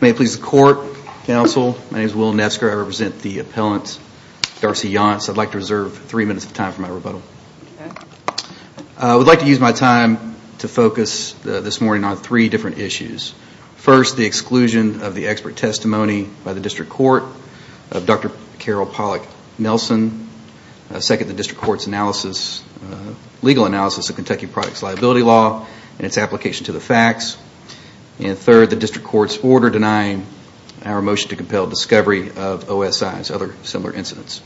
May it please the court, counsel, my name is Will Nesker, I represent the appellant I'd like to reserve three minutes of time for my rebuttal. I would like to use my time to focus this morning on three different issues. First, the exclusion of the expert testimony by the District Court of Dr. Carol Pollack Nelson. Second, the District Court's legal analysis of Kentucky Products Liability Law and its application to the facts. And third, the District Court's order denying our motion to compel discovery of OSI and other similar incidents.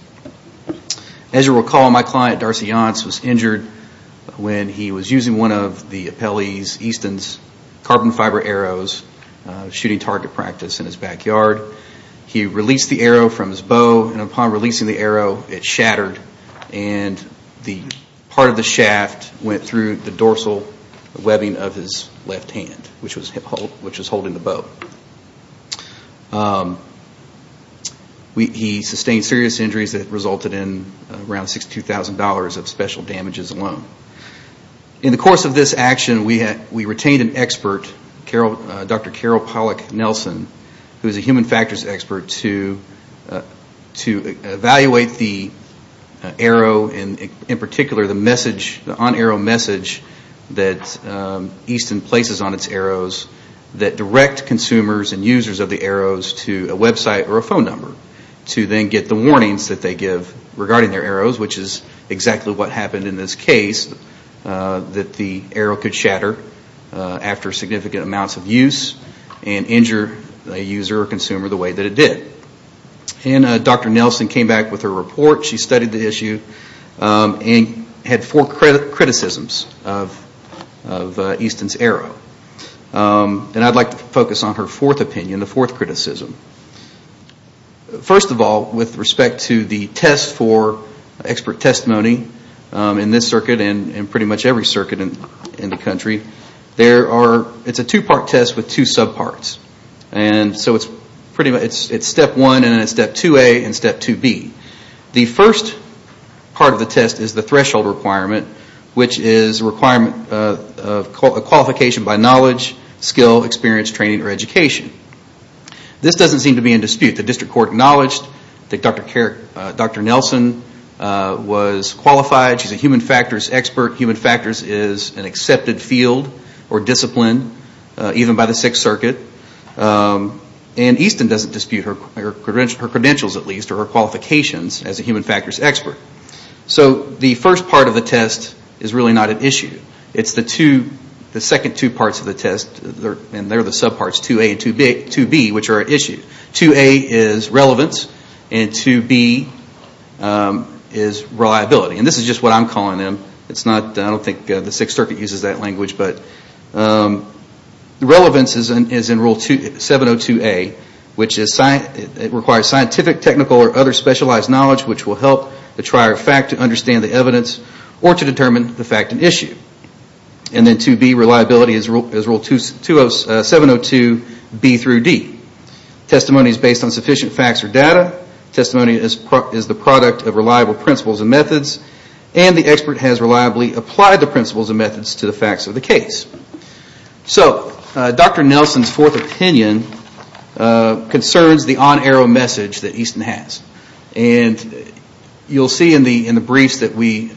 As you recall, my client, Darcy Yonts, was injured when he was using one of the appellee's, Easton's, carbon fiber arrows, shooting target practice in his backyard. He released the arrow from his bow and upon releasing the arrow, it shattered and part of the shaft went through the dorsal webbing of his left hand, which was holding the bow. He sustained serious injuries that resulted in around $62,000 of special damages alone. In the course of this action, we retained an expert, Dr. Carol Pollack Nelson, who is message that Easton places on its arrows that direct consumers and users of the arrows to a website or a phone number to then get the warnings that they give regarding their arrows, which is exactly what happened in this case, that the arrow could shatter after significant amounts of use and injure a user or consumer the way that it did. Dr. Nelson came back with her report. She studied the issue and had four criticisms of Easton's arrow. I'd like to focus on her fourth opinion, the fourth criticism. First of all, with respect to the test for expert testimony in this circuit and pretty much every circuit in the country, it's a two part test with two subparts. It's step one and then it's step 2A and step 2B. The first part of the test is the threshold requirement, which is a qualification by knowledge, skill, experience, training, or education. This doesn't seem to be in dispute. The district court acknowledged that Dr. Nelson was qualified. She's a human factors expert. Human factors is an accepted field or discipline, even by the Sixth Circuit. Easton doesn't dispute her credentials at least or her qualifications as a human factors expert. The first part of the test is really not an issue. It's the second two parts of the test, and they're the subparts, 2A and 2B, which are at issue. 2A is relevance and 2B is reliability. This is just what I'm calling them. I don't think the Sixth Circuit uses that language. Relevance is in rule 702A, which requires scientific, technical, or other specialized knowledge which will help the trier of fact to understand the evidence or to determine the fact at issue. And then 2B, reliability, is rule 702B through D. Testimony is based on sufficient facts or data. And the expert has reliably applied the principles and methods to the facts of the case. So Dr. Nelson's fourth opinion concerns the on-arrow message that Easton has. And you'll see in the briefs that we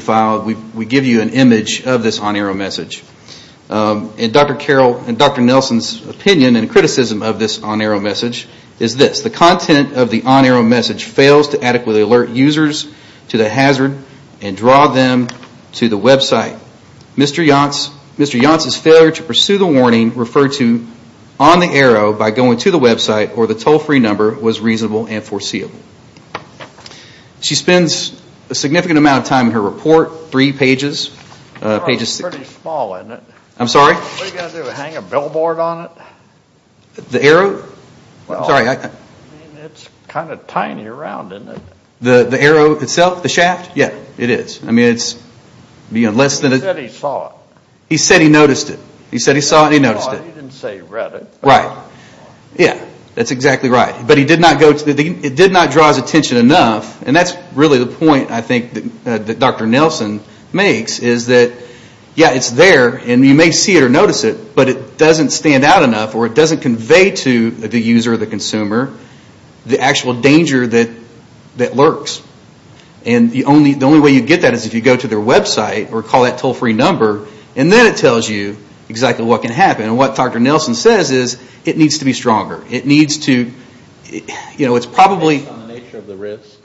filed, we give you an image of this on-arrow message. And Dr. Nelson's opinion and criticism of this on-arrow message is this. The content of the on-arrow message fails to adequately alert users to the hazard and draw them to the website. Mr. Yance's failure to pursue the warning referred to on the arrow by going to the website or the toll-free number was reasonable and foreseeable. She spends a significant amount of time in her report, three pages. It's pretty small, isn't it? I'm sorry? What are you going to do, hang a billboard on it? The arrow? I'm sorry. It's kind of tiny around, isn't it? The arrow itself, the shaft? Yeah, it is. He said he saw it. He said he noticed it. He said he saw it and he noticed it. He didn't say he read it. Right. Yeah, that's exactly right. But it did not draw his attention enough. And that's really the point, I think, that Dr. Nelson makes is that, yeah, it's there and you may see it or notice it, but it doesn't stand out enough or it doesn't convey to the user or the consumer the actual danger that lurks. And the only way you get that is if you go to their website or call that toll-free number and then it tells you exactly what can happen. And what Dr. Nelson says is it needs to be stronger. It needs to, you know, it's probably... Based on the nature of the risk?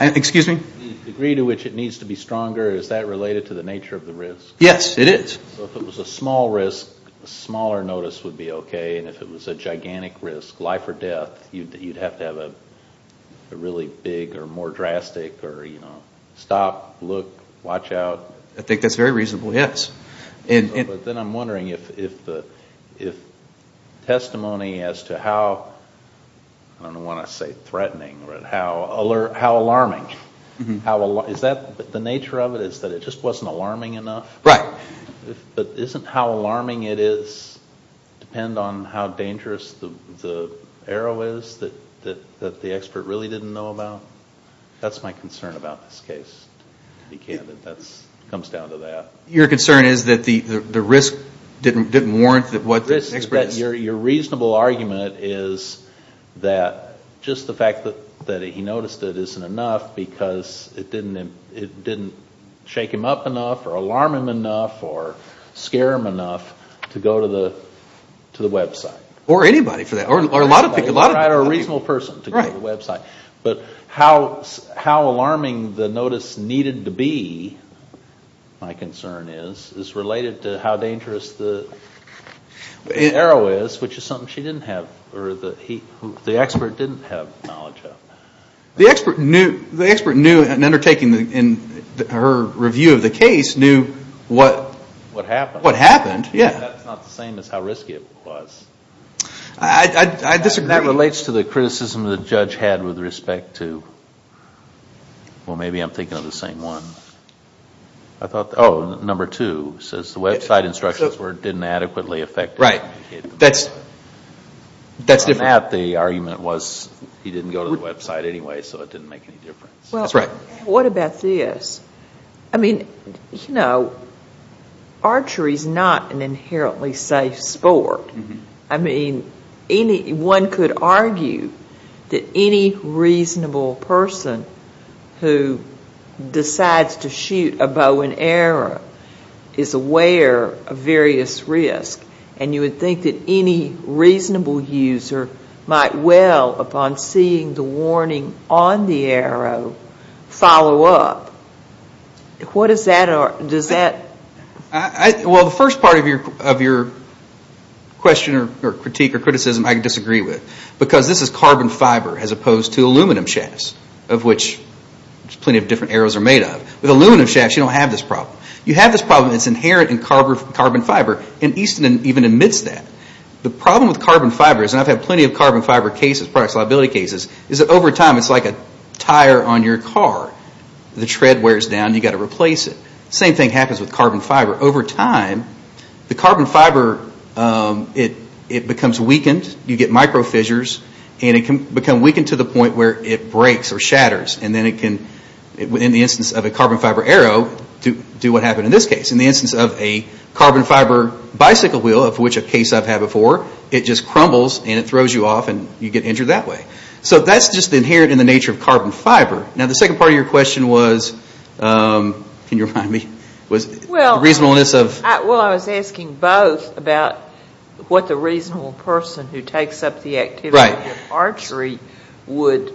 Excuse me? The degree to which it needs to be stronger, is that related to the nature of the risk? Yes, it is. So if it was a small risk, a smaller notice would be okay, and if it was a gigantic risk, life or death, you'd have to have a really big or more drastic or, you know, stop, look, watch out. I think that's very reasonable, yes. But then I'm wondering if testimony as to how, I don't want to say threatening, but how alarming, is that the nature of it is that it just wasn't alarming enough? Right. But isn't how alarming it is depend on how dangerous the arrow is that the expert really didn't know about? That's my concern about this case, to be candid. That comes down to that. Your concern is that the risk didn't warrant what the expert... because it didn't shake him up enough or alarm him enough or scare him enough to go to the website. Or anybody for that. Or a reasonable person to go to the website. But how alarming the notice needed to be, my concern is, is related to how dangerous the arrow is, which is something she didn't have, or the expert didn't have knowledge of. The expert knew, in undertaking her review of the case, knew what happened. That's not the same as how risky it was. I disagree. That relates to the criticism the judge had with respect to, well, maybe I'm thinking of the same one. I thought, oh, number two says the website instructions didn't adequately affect... Right. That's different. In that, the argument was he didn't go to the website anyway, so it didn't make any difference. That's right. What about this? I mean, you know, archery is not an inherently safe sport. I mean, one could argue that any reasonable person who decides to shoot a bow and arrow is aware of various risks. And you would think that any reasonable user might well, upon seeing the warning on the arrow, follow up. What does that... Well, the first part of your question or critique or criticism, I disagree with. Because this is carbon fiber as opposed to aluminum shafts, of which plenty of different arrows are made of. With aluminum shafts, you don't have this problem. You have this problem. It's inherent in carbon fiber. And Easton even admits that. The problem with carbon fiber is, and I've had plenty of carbon fiber cases, products liability cases, is that over time it's like a tire on your car. The tread wears down and you've got to replace it. The same thing happens with carbon fiber. Over time, the carbon fiber, it becomes weakened. You get micro fissures. And it can become weakened to the point where it breaks or shatters. And then it can, in the instance of a carbon fiber arrow, do what happened in this case. In the instance of a carbon fiber bicycle wheel, of which a case I've had before, it just crumbles and it throws you off and you get injured that way. So that's just inherent in the nature of carbon fiber. Now, the second part of your question was, can you remind me, was reasonableness of... Well, I was asking both about what the reasonable person who takes up the activity of archery would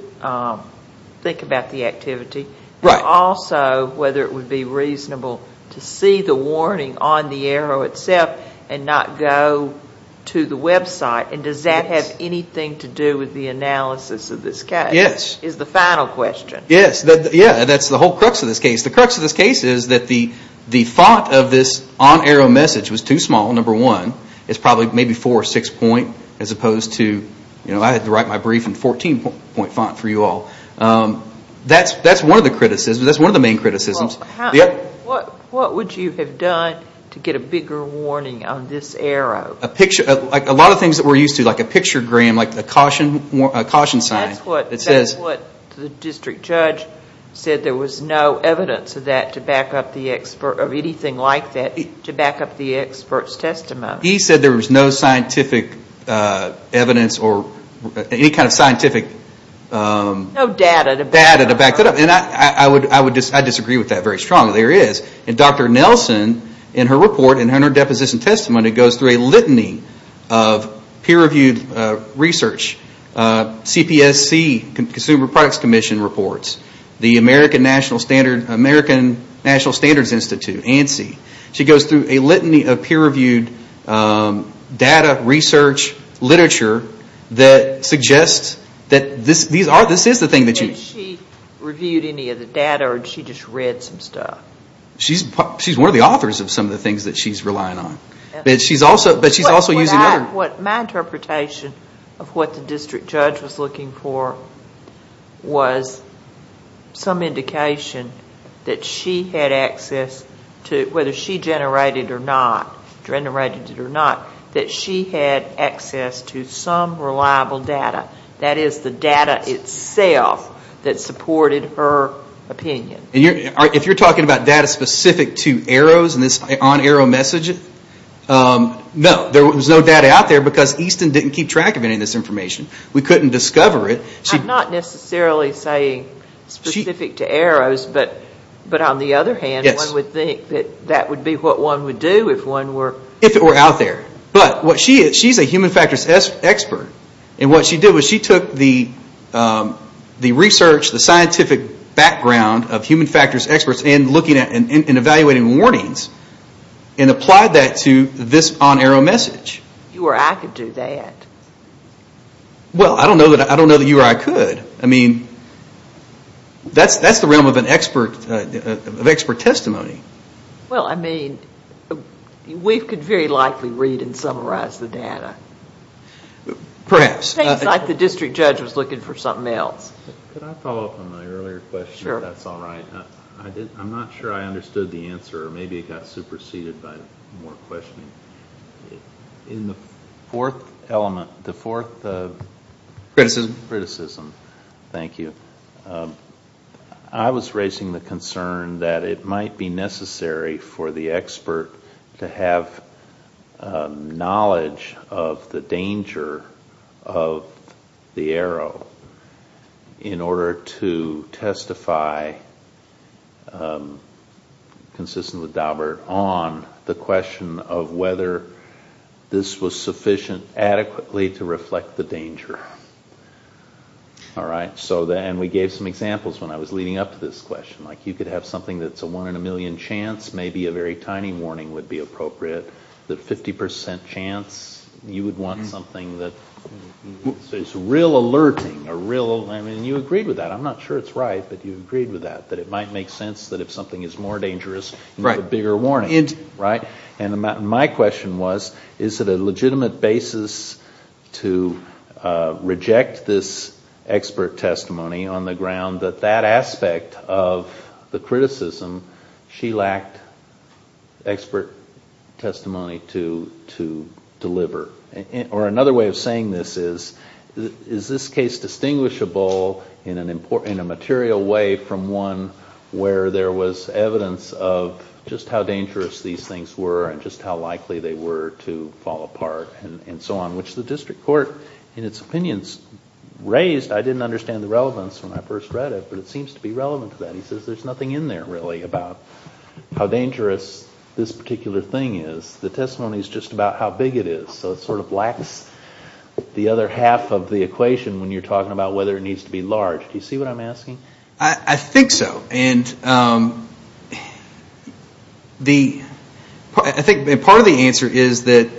think about the activity. Right. And also whether it would be reasonable to see the warning on the arrow itself and not go to the website. And does that have anything to do with the analysis of this case? Yes. Is the final question. Yes. Yeah, that's the whole crux of this case. The crux of this case is that the thought of this on-arrow message was too small, number one. It's probably maybe four or six point as opposed to, you know, I had to write my brief in 14 point font for you all. That's one of the criticisms. That's one of the main criticisms. What would you have done to get a bigger warning on this arrow? A picture, like a lot of things that we're used to, like a picture gram, like a caution sign. That's what the district judge said there was no evidence of that to back up the expert, He said there was no scientific evidence or any kind of scientific data to back that up. And I disagree with that very strongly. There is. And Dr. Nelson, in her report, in her deposition testimony, goes through a litany of peer-reviewed research, CPSC, Consumer Products Commission reports, the American National Standards Institute, ANSI. She goes through a litany of peer-reviewed data, research, literature that suggests that this is the thing that you... Has she reviewed any of the data or has she just read some stuff? She's one of the authors of some of the things that she's relying on. But she's also using other... Whether she generated it or not, that she had access to some reliable data. That is, the data itself that supported her opinion. If you're talking about data specific to arrows and this on-arrow message, no. There was no data out there because Easton didn't keep track of any of this information. We couldn't discover it. I'm not necessarily saying specific to arrows. But on the other hand, one would think that that would be what one would do if one were... If it were out there. But she's a human factors expert. And what she did was she took the research, the scientific background of human factors experts and evaluating warnings and applied that to this on-arrow message. You or I could do that. Well, I don't know that you or I could. I mean, that's the realm of expert testimony. Well, I mean, we could very likely read and summarize the data. Perhaps. It's like the district judge was looking for something else. Could I follow up on my earlier question, if that's all right? I'm not sure I understood the answer. Maybe it got superseded by more questioning. In the fourth element, the fourth... Criticism. Criticism. Thank you. I was raising the concern that it might be necessary for the expert to have knowledge of the danger of the arrow in order to testify, consistent with Daubert, on the question of whether this was sufficient adequately to reflect the danger. And we gave some examples when I was leading up to this question. Like you could have something that's a one in a million chance. Maybe a very tiny warning would be appropriate. The 50% chance you would want something that... It's real alerting, a real... I mean, you agreed with that. I'm not sure it's right, but you agreed with that. That it might make sense that if something is more dangerous, you need a bigger warning. Right? And my question was, is it a legitimate basis to reject this expert testimony on the ground that that aspect of the criticism, she lacked expert testimony to deliver? Or another way of saying this is, is this case distinguishable in a material way from one where there was evidence of just how dangerous these things were and just how likely they were to fall apart and so on, which the district court, in its opinions, raised. I didn't understand the relevance when I first read it, but it seems to be relevant to that. He says there's nothing in there, really, about how dangerous this particular thing is. The testimony is just about how big it is, so it sort of lacks the other half of the equation when you're talking about whether it needs to be large. Do you see what I'm asking? I think so. And the... I think part of the answer is that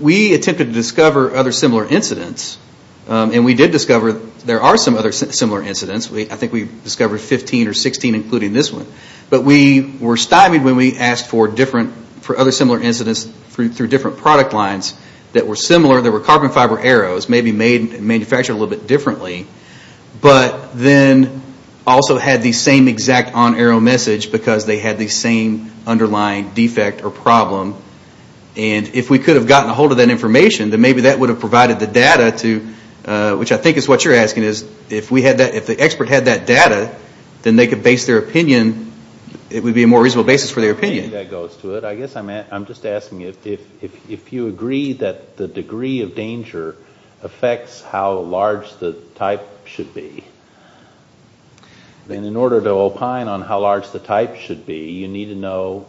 we attempted to discover other similar incidents, and we did discover there are some other similar incidents. I think we discovered 15 or 16, including this one. But we were stymied when we asked for other similar incidents through different product lines that were similar, that were carbon fiber arrows, maybe manufactured a little bit differently, but then also had the same exact on-arrow message because they had the same underlying defect or problem. And if we could have gotten a hold of that information, then maybe that would have provided the data to... which I think is what you're asking is, if the expert had that data, then they could base their opinion. It would be a more reasonable basis for their opinion. I think that goes to it. I guess I'm just asking if you agree that the degree of danger affects how large the type should be, then in order to opine on how large the type should be, you need to know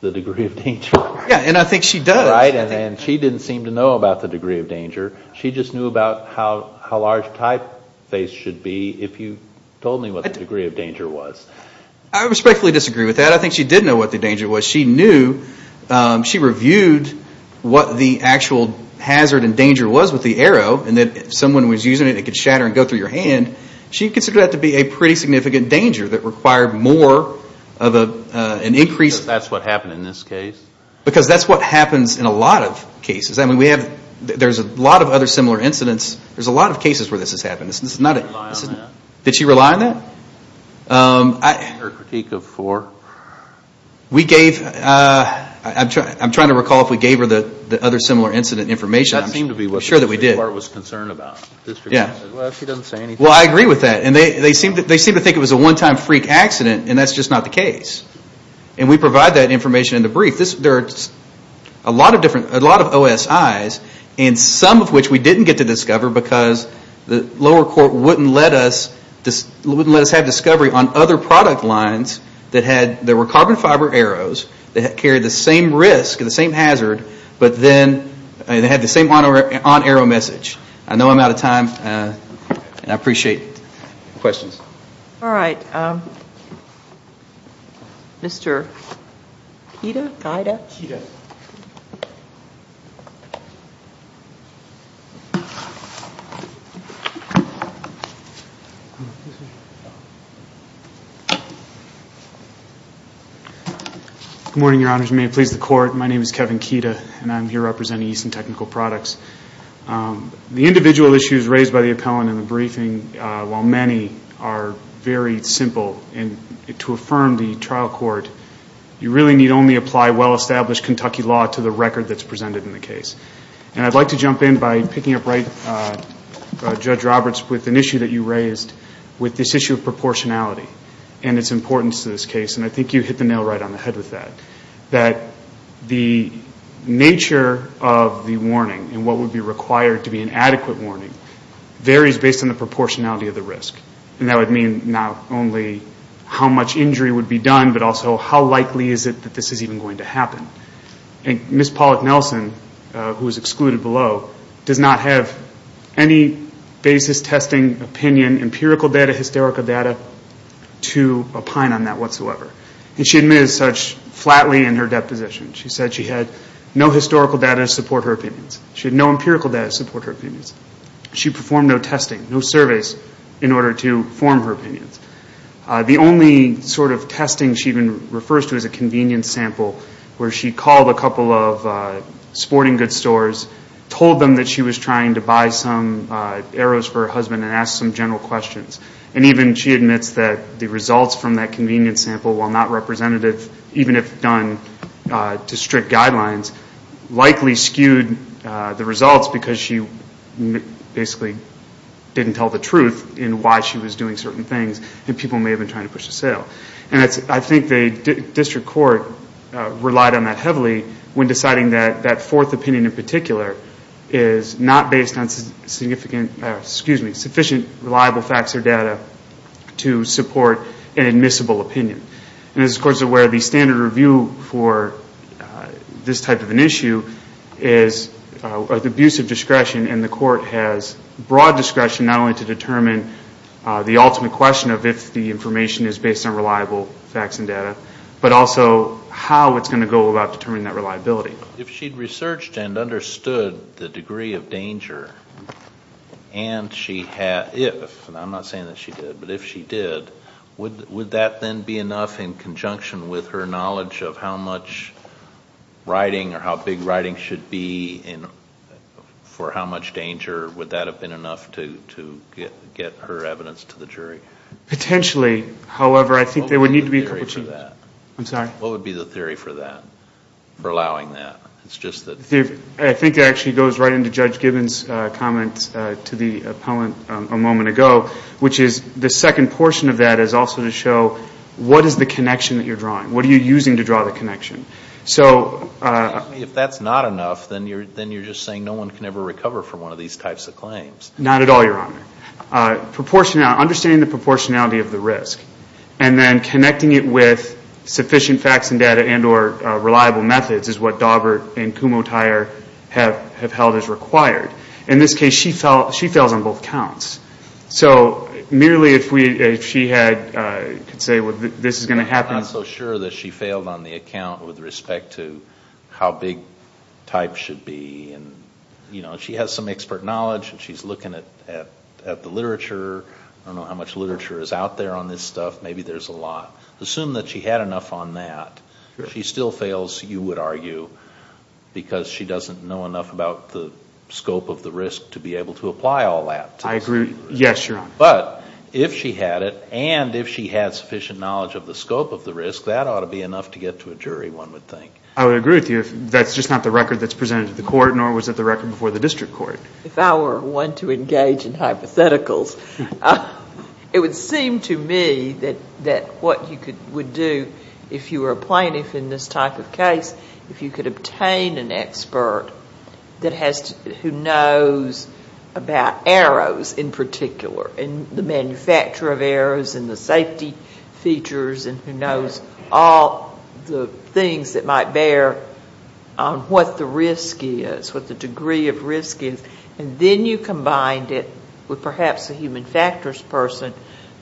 the degree of danger. Yeah, and I think she does. Right, and she didn't seem to know about the degree of danger. She just knew about how large the typeface should be if you told me what the degree of danger was. I respectfully disagree with that. I think she did know what the danger was. She knew, she reviewed what the actual hazard and danger was with the arrow, and that if someone was using it, it could shatter and go through your hand. She considered that to be a pretty significant danger that required more of an increased... Because that's what happened in this case? Because that's what happens in a lot of cases. There's a lot of other similar incidents. There's a lot of cases where this has happened. Did she rely on that? Did she rely on that? Her critique of four. I'm trying to recall if we gave her the other similar incident information. I'm sure that we did. She didn't seem to know what she was concerned about. Well, I agree with that. They seemed to think it was a one-time freak accident, and that's just not the case. And we provide that information in the brief. There are a lot of OSIs, and some of which we didn't get to discover because the lower court wouldn't let us have discovery on other product lines. There were carbon fiber arrows that carried the same risk and the same hazard, but then they had the same on-arrow message. I know I'm out of time, and I appreciate questions. All right. Mr. Kida? Good morning, Your Honors. May it please the Court, my name is Kevin Kida, and I'm here representing Easton Technical Products. The individual issues raised by the appellant in the briefing, while many, are very simple. And to affirm the trial court, you really need only apply well-established Kentucky law to the record that's presented in the case. And I'd like to jump in by picking up right, Judge Roberts, with an issue that you raised with this issue of proportionality and its importance to this case. And I think you hit the nail right on the head with that, that the nature of the warning and what would be required to be an adequate warning varies based on the proportionality of the risk. And that would mean not only how much injury would be done, but also how likely is it that this is even going to happen. And Ms. Pollack-Nelson, who is excluded below, does not have any basis, testing, opinion, empirical data, hysterical data, to opine on that whatsoever. And she admits such flatly in her deposition. She said she had no historical data to support her opinions. She had no empirical data to support her opinions. She performed no testing, no surveys, in order to form her opinions. The only sort of testing she even refers to is a convenience sample where she called a couple of sporting goods stores, told them that she was trying to buy some arrows for her husband, and asked some general questions. And even she admits that the results from that convenience sample, while not representative, even if done to strict guidelines, likely skewed the results because she basically didn't tell the truth in why she was doing certain things, and people may have been trying to push a sale. And I think the district court relied on that heavily when deciding that that fourth opinion in particular is not based on sufficient reliable facts or data to support an admissible opinion. And this is, of course, where the standard review for this type of an issue is with abusive discretion, and the court has broad discretion not only to determine the ultimate question of if the information is based on reliable facts and data, but also how it's going to go about determining that reliability. If she'd researched and understood the degree of danger and she had, if, and I'm not saying that she did, but if she did, would that then be enough in conjunction with her knowledge of how much writing or how big writing should be for how much danger? Would that have been enough to get her evidence to the jury? Potentially, however, I think there would need to be a couple changes. What would be the theory for that? I'm sorry? I think it actually goes right into Judge Gibbons' comment to the appellant a moment ago, which is the second portion of that is also to show what is the connection that you're drawing. What are you using to draw the connection? If that's not enough, then you're just saying no one can ever recover from one of these types of claims. Not at all, Your Honor. Understanding the proportionality of the risk and then connecting it with sufficient facts and data and or reliable methods is what Daubert and Kumho-Tyre have held as required. In this case, she fails on both counts. So merely if she could say this is going to happen. I'm not so sure that she failed on the account with respect to how big types should be. She has some expert knowledge and she's looking at the literature. I don't know how much literature is out there on this stuff. Maybe there's a lot. Assume that she had enough on that. She still fails, you would argue, because she doesn't know enough about the scope of the risk to be able to apply all that. I agree. Yes, Your Honor. But if she had it and if she had sufficient knowledge of the scope of the risk, that ought to be enough to get to a jury, one would think. I would agree with you. That's just not the record that's presented to the court, nor was it the record before the district court. If I were one to engage in hypotheticals, it would seem to me that what you would do, if you were a plaintiff in this type of case, if you could obtain an expert who knows about arrows in particular and the manufacture of arrows and the safety features and who knows all the things that might bear on what the risk is, what the degree of risk is, and then you combined it with perhaps a human factors person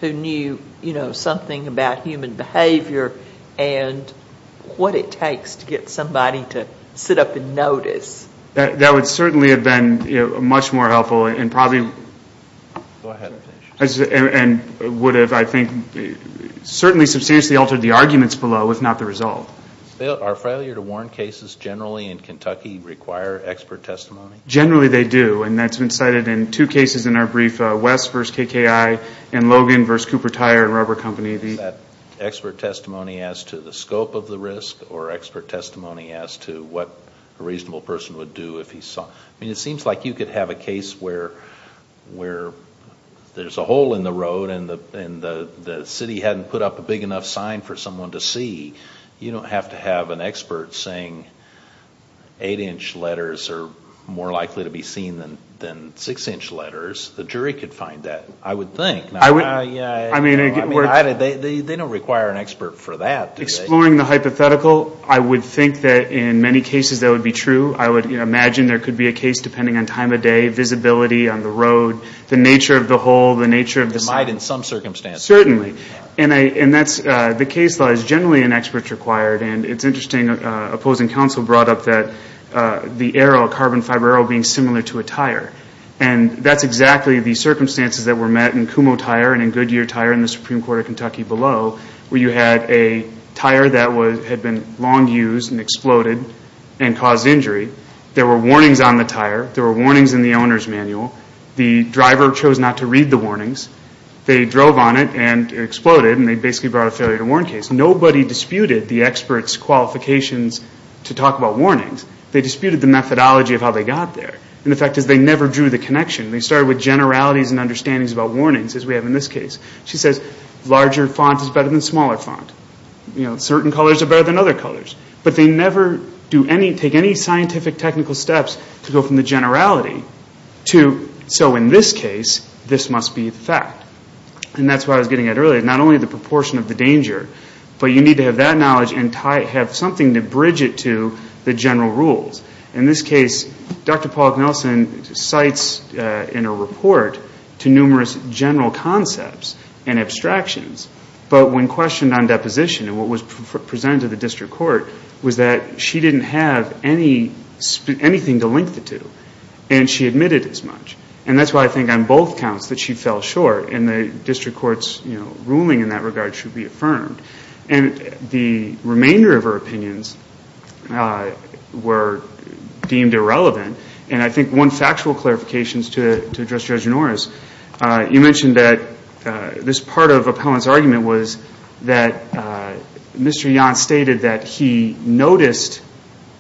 who knew something about human behavior and what it takes to get somebody to sit up and notice. That would certainly have been much more helpful and probably would have, I think, certainly substantially altered the arguments below, if not the result. Are failure to warn cases generally in Kentucky require expert testimony? Generally they do, and that's been cited in two cases in our brief, West v. KKI and Logan v. Cooper Tire and Rubber Company. Is that expert testimony as to the scope of the risk or expert testimony as to what a reasonable person would do if he saw? It seems like you could have a case where there's a hole in the road and the city hadn't put up a big enough sign for someone to see. You don't have to have an expert saying eight-inch letters are more likely to be seen than six-inch letters. The jury could find that, I would think. They don't require an expert for that, do they? Exploring the hypothetical, I would think that in many cases that would be true. I would imagine there could be a case, depending on time of day, visibility on the road, the nature of the hole, the nature of the sign. It might in some circumstances. Certainly. The case law is generally an expert's required, and it's interesting opposing counsel brought up the arrow, a carbon fiber arrow being similar to a tire. That's exactly the circumstances that were met in Kumho Tire and in Goodyear Tire and the Supreme Court of Kentucky below, where you had a tire that had been long used and exploded and caused injury. There were warnings on the tire. There were warnings in the owner's manual. The driver chose not to read the warnings. They drove on it and it exploded, and they basically brought a failure to warn case. Nobody disputed the expert's qualifications to talk about warnings. They disputed the methodology of how they got there. And the fact is they never drew the connection. They started with generalities and understandings about warnings, as we have in this case. She says, larger font is better than smaller font. Certain colors are better than other colors. But they never take any scientific technical steps to go from the generality to, so in this case, this must be the fact. And that's what I was getting at earlier. Not only the proportion of the danger, but you need to have that knowledge and have something to bridge it to the general rules. In this case, Dr. Paulick-Nelson cites in her report to numerous general concepts and abstractions, but when questioned on deposition, and what was presented to the district court, was that she didn't have anything to link the two, and she admitted as much. And that's why I think on both counts that she fell short and the district court's ruling in that regard should be affirmed. And the remainder of her opinions were deemed irrelevant. And I think one factual clarification to address Judge Norris, you mentioned that this part of Appellant's argument was that Mr. Yan stated that he noticed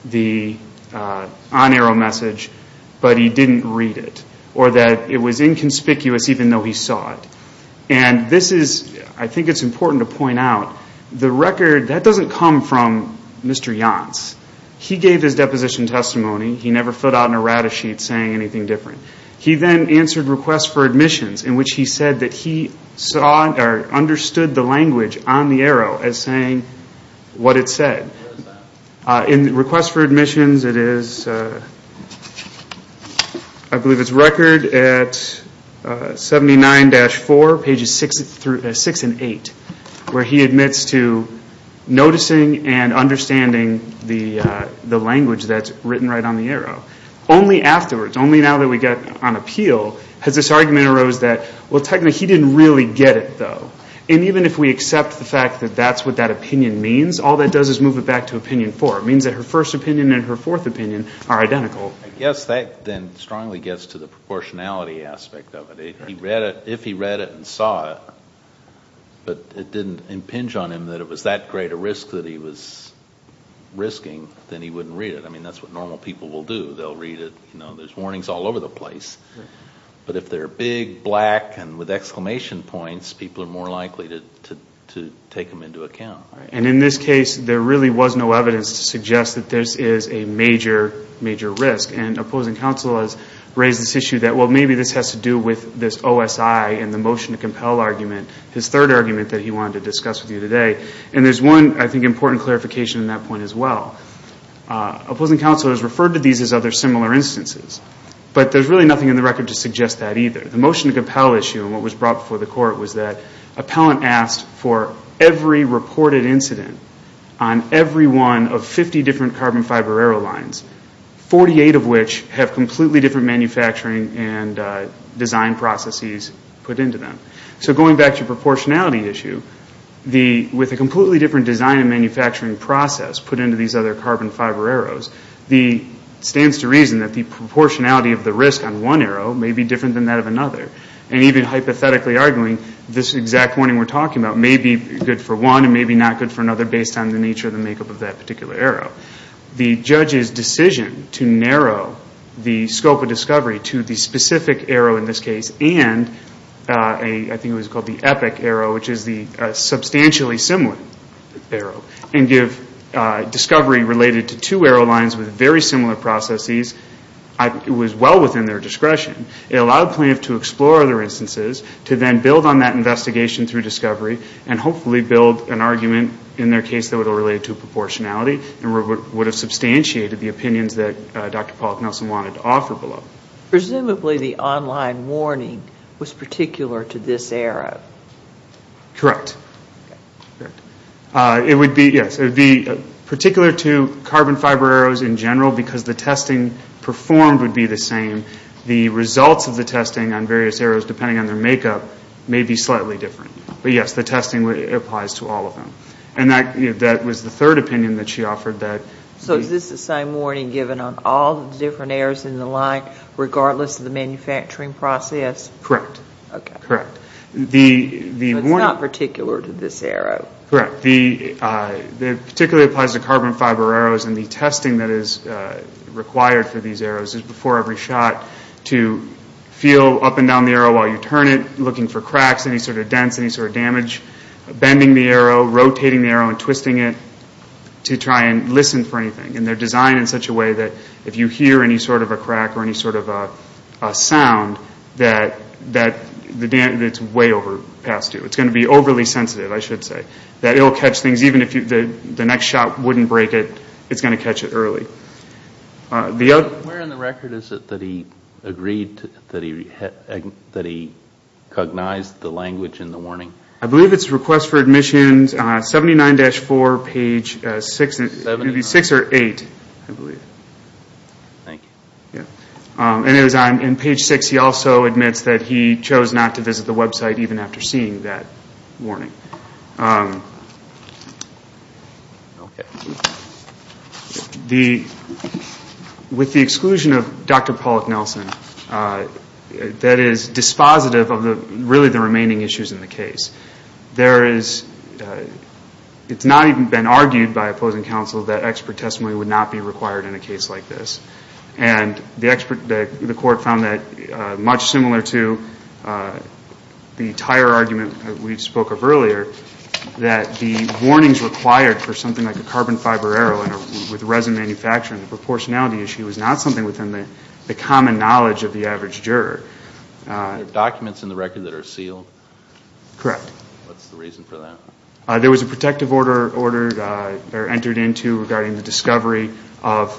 the on-arrow message, but he didn't read it. Or that it was inconspicuous even though he saw it. And this is, I think it's important to point out, the record, that doesn't come from Mr. Yance. He gave his deposition testimony. He never filled out an errata sheet saying anything different. He then answered requests for admissions in which he said that he saw or understood the language on the arrow as saying what it said. In requests for admissions it is, I believe it's record at 79-4, pages 6 and 8, where he admits to noticing and understanding the language that's written right on the arrow. Only afterwards, only now that we get on appeal, has this argument arose that, well technically he didn't really get it though. And even if we accept the fact that that's what that opinion means, all that does is move it back to opinion 4. It means that her first opinion and her fourth opinion are identical. I guess that then strongly gets to the proportionality aspect of it. If he read it and saw it, but it didn't impinge on him that it was that great a risk that he was risking, then he wouldn't read it. I mean that's what normal people will do. They'll read it, you know, there's warnings all over the place. But if they're big, black, and with exclamation points, people are more likely to take them into account. And in this case, there really was no evidence to suggest that this is a major, major risk. And opposing counsel has raised this issue that, well maybe this has to do with this OSI and the motion to compel argument, his third argument that he wanted to discuss with you today. And there's one, I think, important clarification on that point as well. Opposing counsel has referred to these as other similar instances. But there's really nothing in the record to suggest that either. The motion to compel issue and what was brought before the court was that for every reported incident on every one of 50 different carbon fiber arrow lines, 48 of which have completely different manufacturing and design processes put into them. So going back to your proportionality issue, with a completely different design and manufacturing process put into these other carbon fiber arrows, it stands to reason that the proportionality of the risk on one arrow may be different than that of another. And even hypothetically arguing, this exact pointing we're talking about may be good for one and may be not good for another based on the nature of the makeup of that particular arrow. The judge's decision to narrow the scope of discovery to the specific arrow in this case and I think it was called the epic arrow, which is the substantially similar arrow, and give discovery related to two arrow lines with very similar processes, it was well within their discretion. It allowed plaintiff to explore other instances to then build on that investigation through discovery and hopefully build an argument in their case that would have related to proportionality and would have substantiated the opinions that Dr. Pollack Nelson wanted to offer below. Presumably the online warning was particular to this arrow. Correct. It would be, yes, it would be particular to carbon fiber arrows in general because the testing performed would be the same. The results of the testing on various arrows, depending on their makeup, may be slightly different. But yes, the testing applies to all of them. And that was the third opinion that she offered. So is this the same warning given on all the different arrows in the line, regardless of the manufacturing process? Correct. Okay. Correct. But it's not particular to this arrow. Correct. It particularly applies to carbon fiber arrows and the testing that is required for these arrows is before every shot to feel up and down the arrow while you turn it, looking for cracks, any sort of dents, any sort of damage, bending the arrow, rotating the arrow, and twisting it to try and listen for anything. And they're designed in such a way that if you hear any sort of a crack or any sort of a sound, that it's way overpassed you. It's going to be overly sensitive, I should say. Even if the next shot wouldn't break it, it's going to catch it early. Where in the record is it that he agreed that he cognized the language in the warning? I believe it's request for admission, 79-4, page 6 or 8, I believe. Thank you. And it was on page 6 he also admits that he chose not to visit the website even after seeing that warning. With the exclusion of Dr. Pollack-Nelson, that is dispositive of really the remaining issues in the case. It's not even been argued by opposing counsel that expert testimony would not be required in a case like this. And the court found that much similar to the tire argument that we spoke of earlier, that the warnings required for something like a carbon fiber arrow with resin manufacturing, the proportionality issue is not something within the common knowledge of the average juror. There are documents in the record that are sealed? Correct. What's the reason for that? There was a protective order entered into regarding the discovery of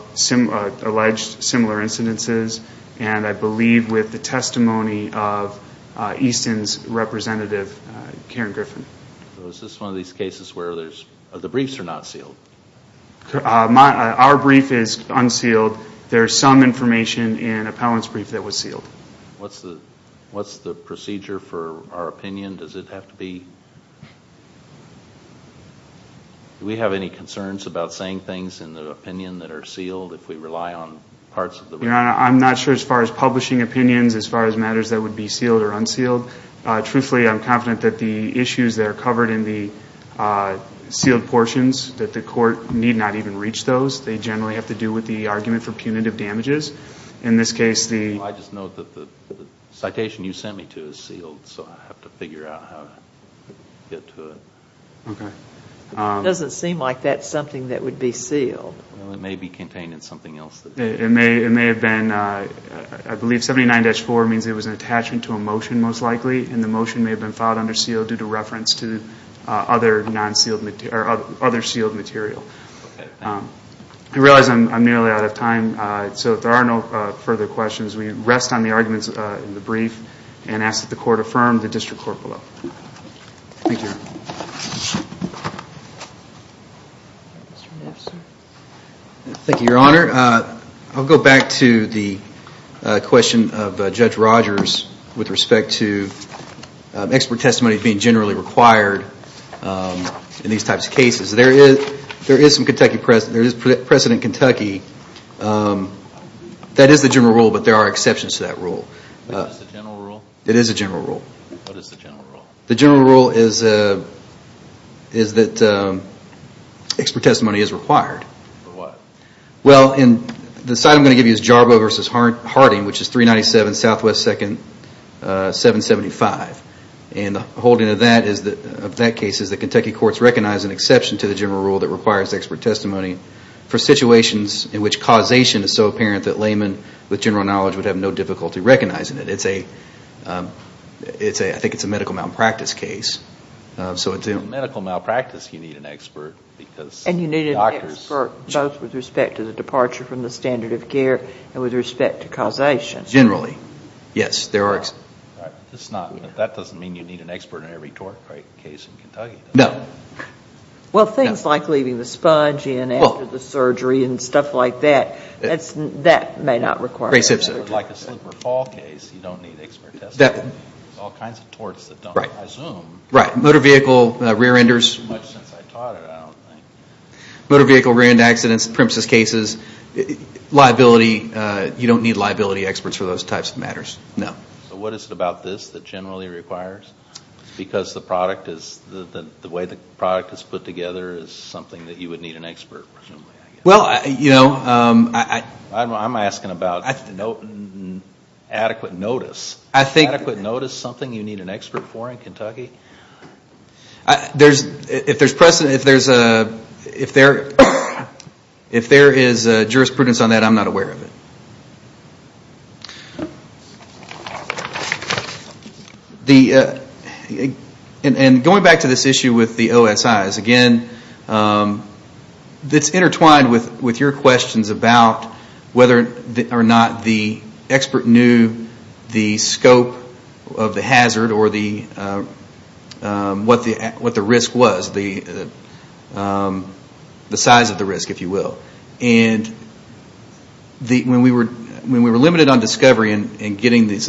alleged similar incidences, and I believe with the testimony of Easton's representative, Karen Griffin. Is this one of these cases where the briefs are not sealed? Our brief is unsealed. There is some information in Appellant's brief that was sealed. What's the procedure for our opinion? Do we have any concerns about saying things in the opinion that are sealed if we rely on parts of the brief? Your Honor, I'm not sure as far as publishing opinions, as far as matters that would be sealed or unsealed. Truthfully, I'm confident that the issues that are covered in the sealed portions, that the court need not even reach those. They generally have to do with the argument for punitive damages. In this case, the— I'm not sure how to get to it. Okay. It doesn't seem like that's something that would be sealed. Well, it may be contained in something else. It may have been. I believe 79-4 means it was an attachment to a motion most likely, and the motion may have been filed under seal due to reference to other sealed material. I realize I'm nearly out of time, so if there are no further questions, we rest on the arguments in the brief and ask that the court affirm the district court below. Thank you, Your Honor. Thank you, Your Honor. I'll go back to the question of Judge Rogers with respect to expert testimony being generally required in these types of cases. There is some Kentucky precedent. There is precedent in Kentucky. That is the general rule, but there are exceptions to that rule. What is the general rule? It is a general rule. What is the general rule? The general rule is that expert testimony is required. For what? Well, the side I'm going to give you is Jarboe v. Harding, which is 397 Southwest 2nd, 775. And the holding of that case is that Kentucky courts recognize an exception to the general rule that requires expert testimony for situations in which causation is so apparent that laymen with general knowledge would have no difficulty recognizing it. I think it's a medical malpractice case. In medical malpractice, you need an expert. And you need an expert both with respect to the departure from the standard of care and with respect to causation. Generally, yes. That doesn't mean you need an expert in every tort case in Kentucky. No. Well, things like leaving the sponge in after the surgery and stuff like that, that may not require an expert. Like a slip or fall case, you don't need expert testimony. There are all kinds of torts that don't presume. Right. Motor vehicle rear-enders. Not much since I taught it, I don't think. Motor vehicle rear-end accidents, premises cases, liability, you don't need liability experts for those types of matters. No. What is it about this that generally requires? Because the way the product is put together is something that you would need an expert for. Well, you know, I'm asking about adequate notice. Adequate notice is something you need an expert for in Kentucky. If there is jurisprudence on that, I'm not aware of it. Going back to this issue with the OSIs, again, it's intertwined with your questions about whether or not the expert knew the scope of the hazard or what the risk was, the size of the risk, if you will. When we were limited on discovery and getting this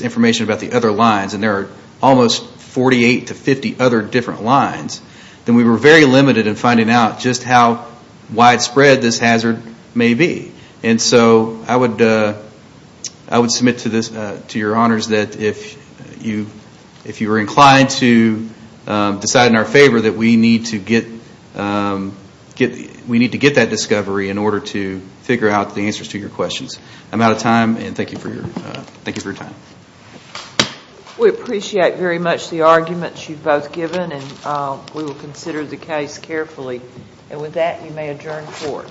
information about the other lines, and there are almost 48 to 50 other different lines, then we were very limited in finding out just how widespread this hazard may be. I would submit to your honors that if you were inclined to decide in our favor, that we need to get that discovery in order to figure out the answers to your questions. I'm out of time, and thank you for your time. We appreciate very much the arguments you've both given, and we will consider the case carefully. And with that, you may adjourn court.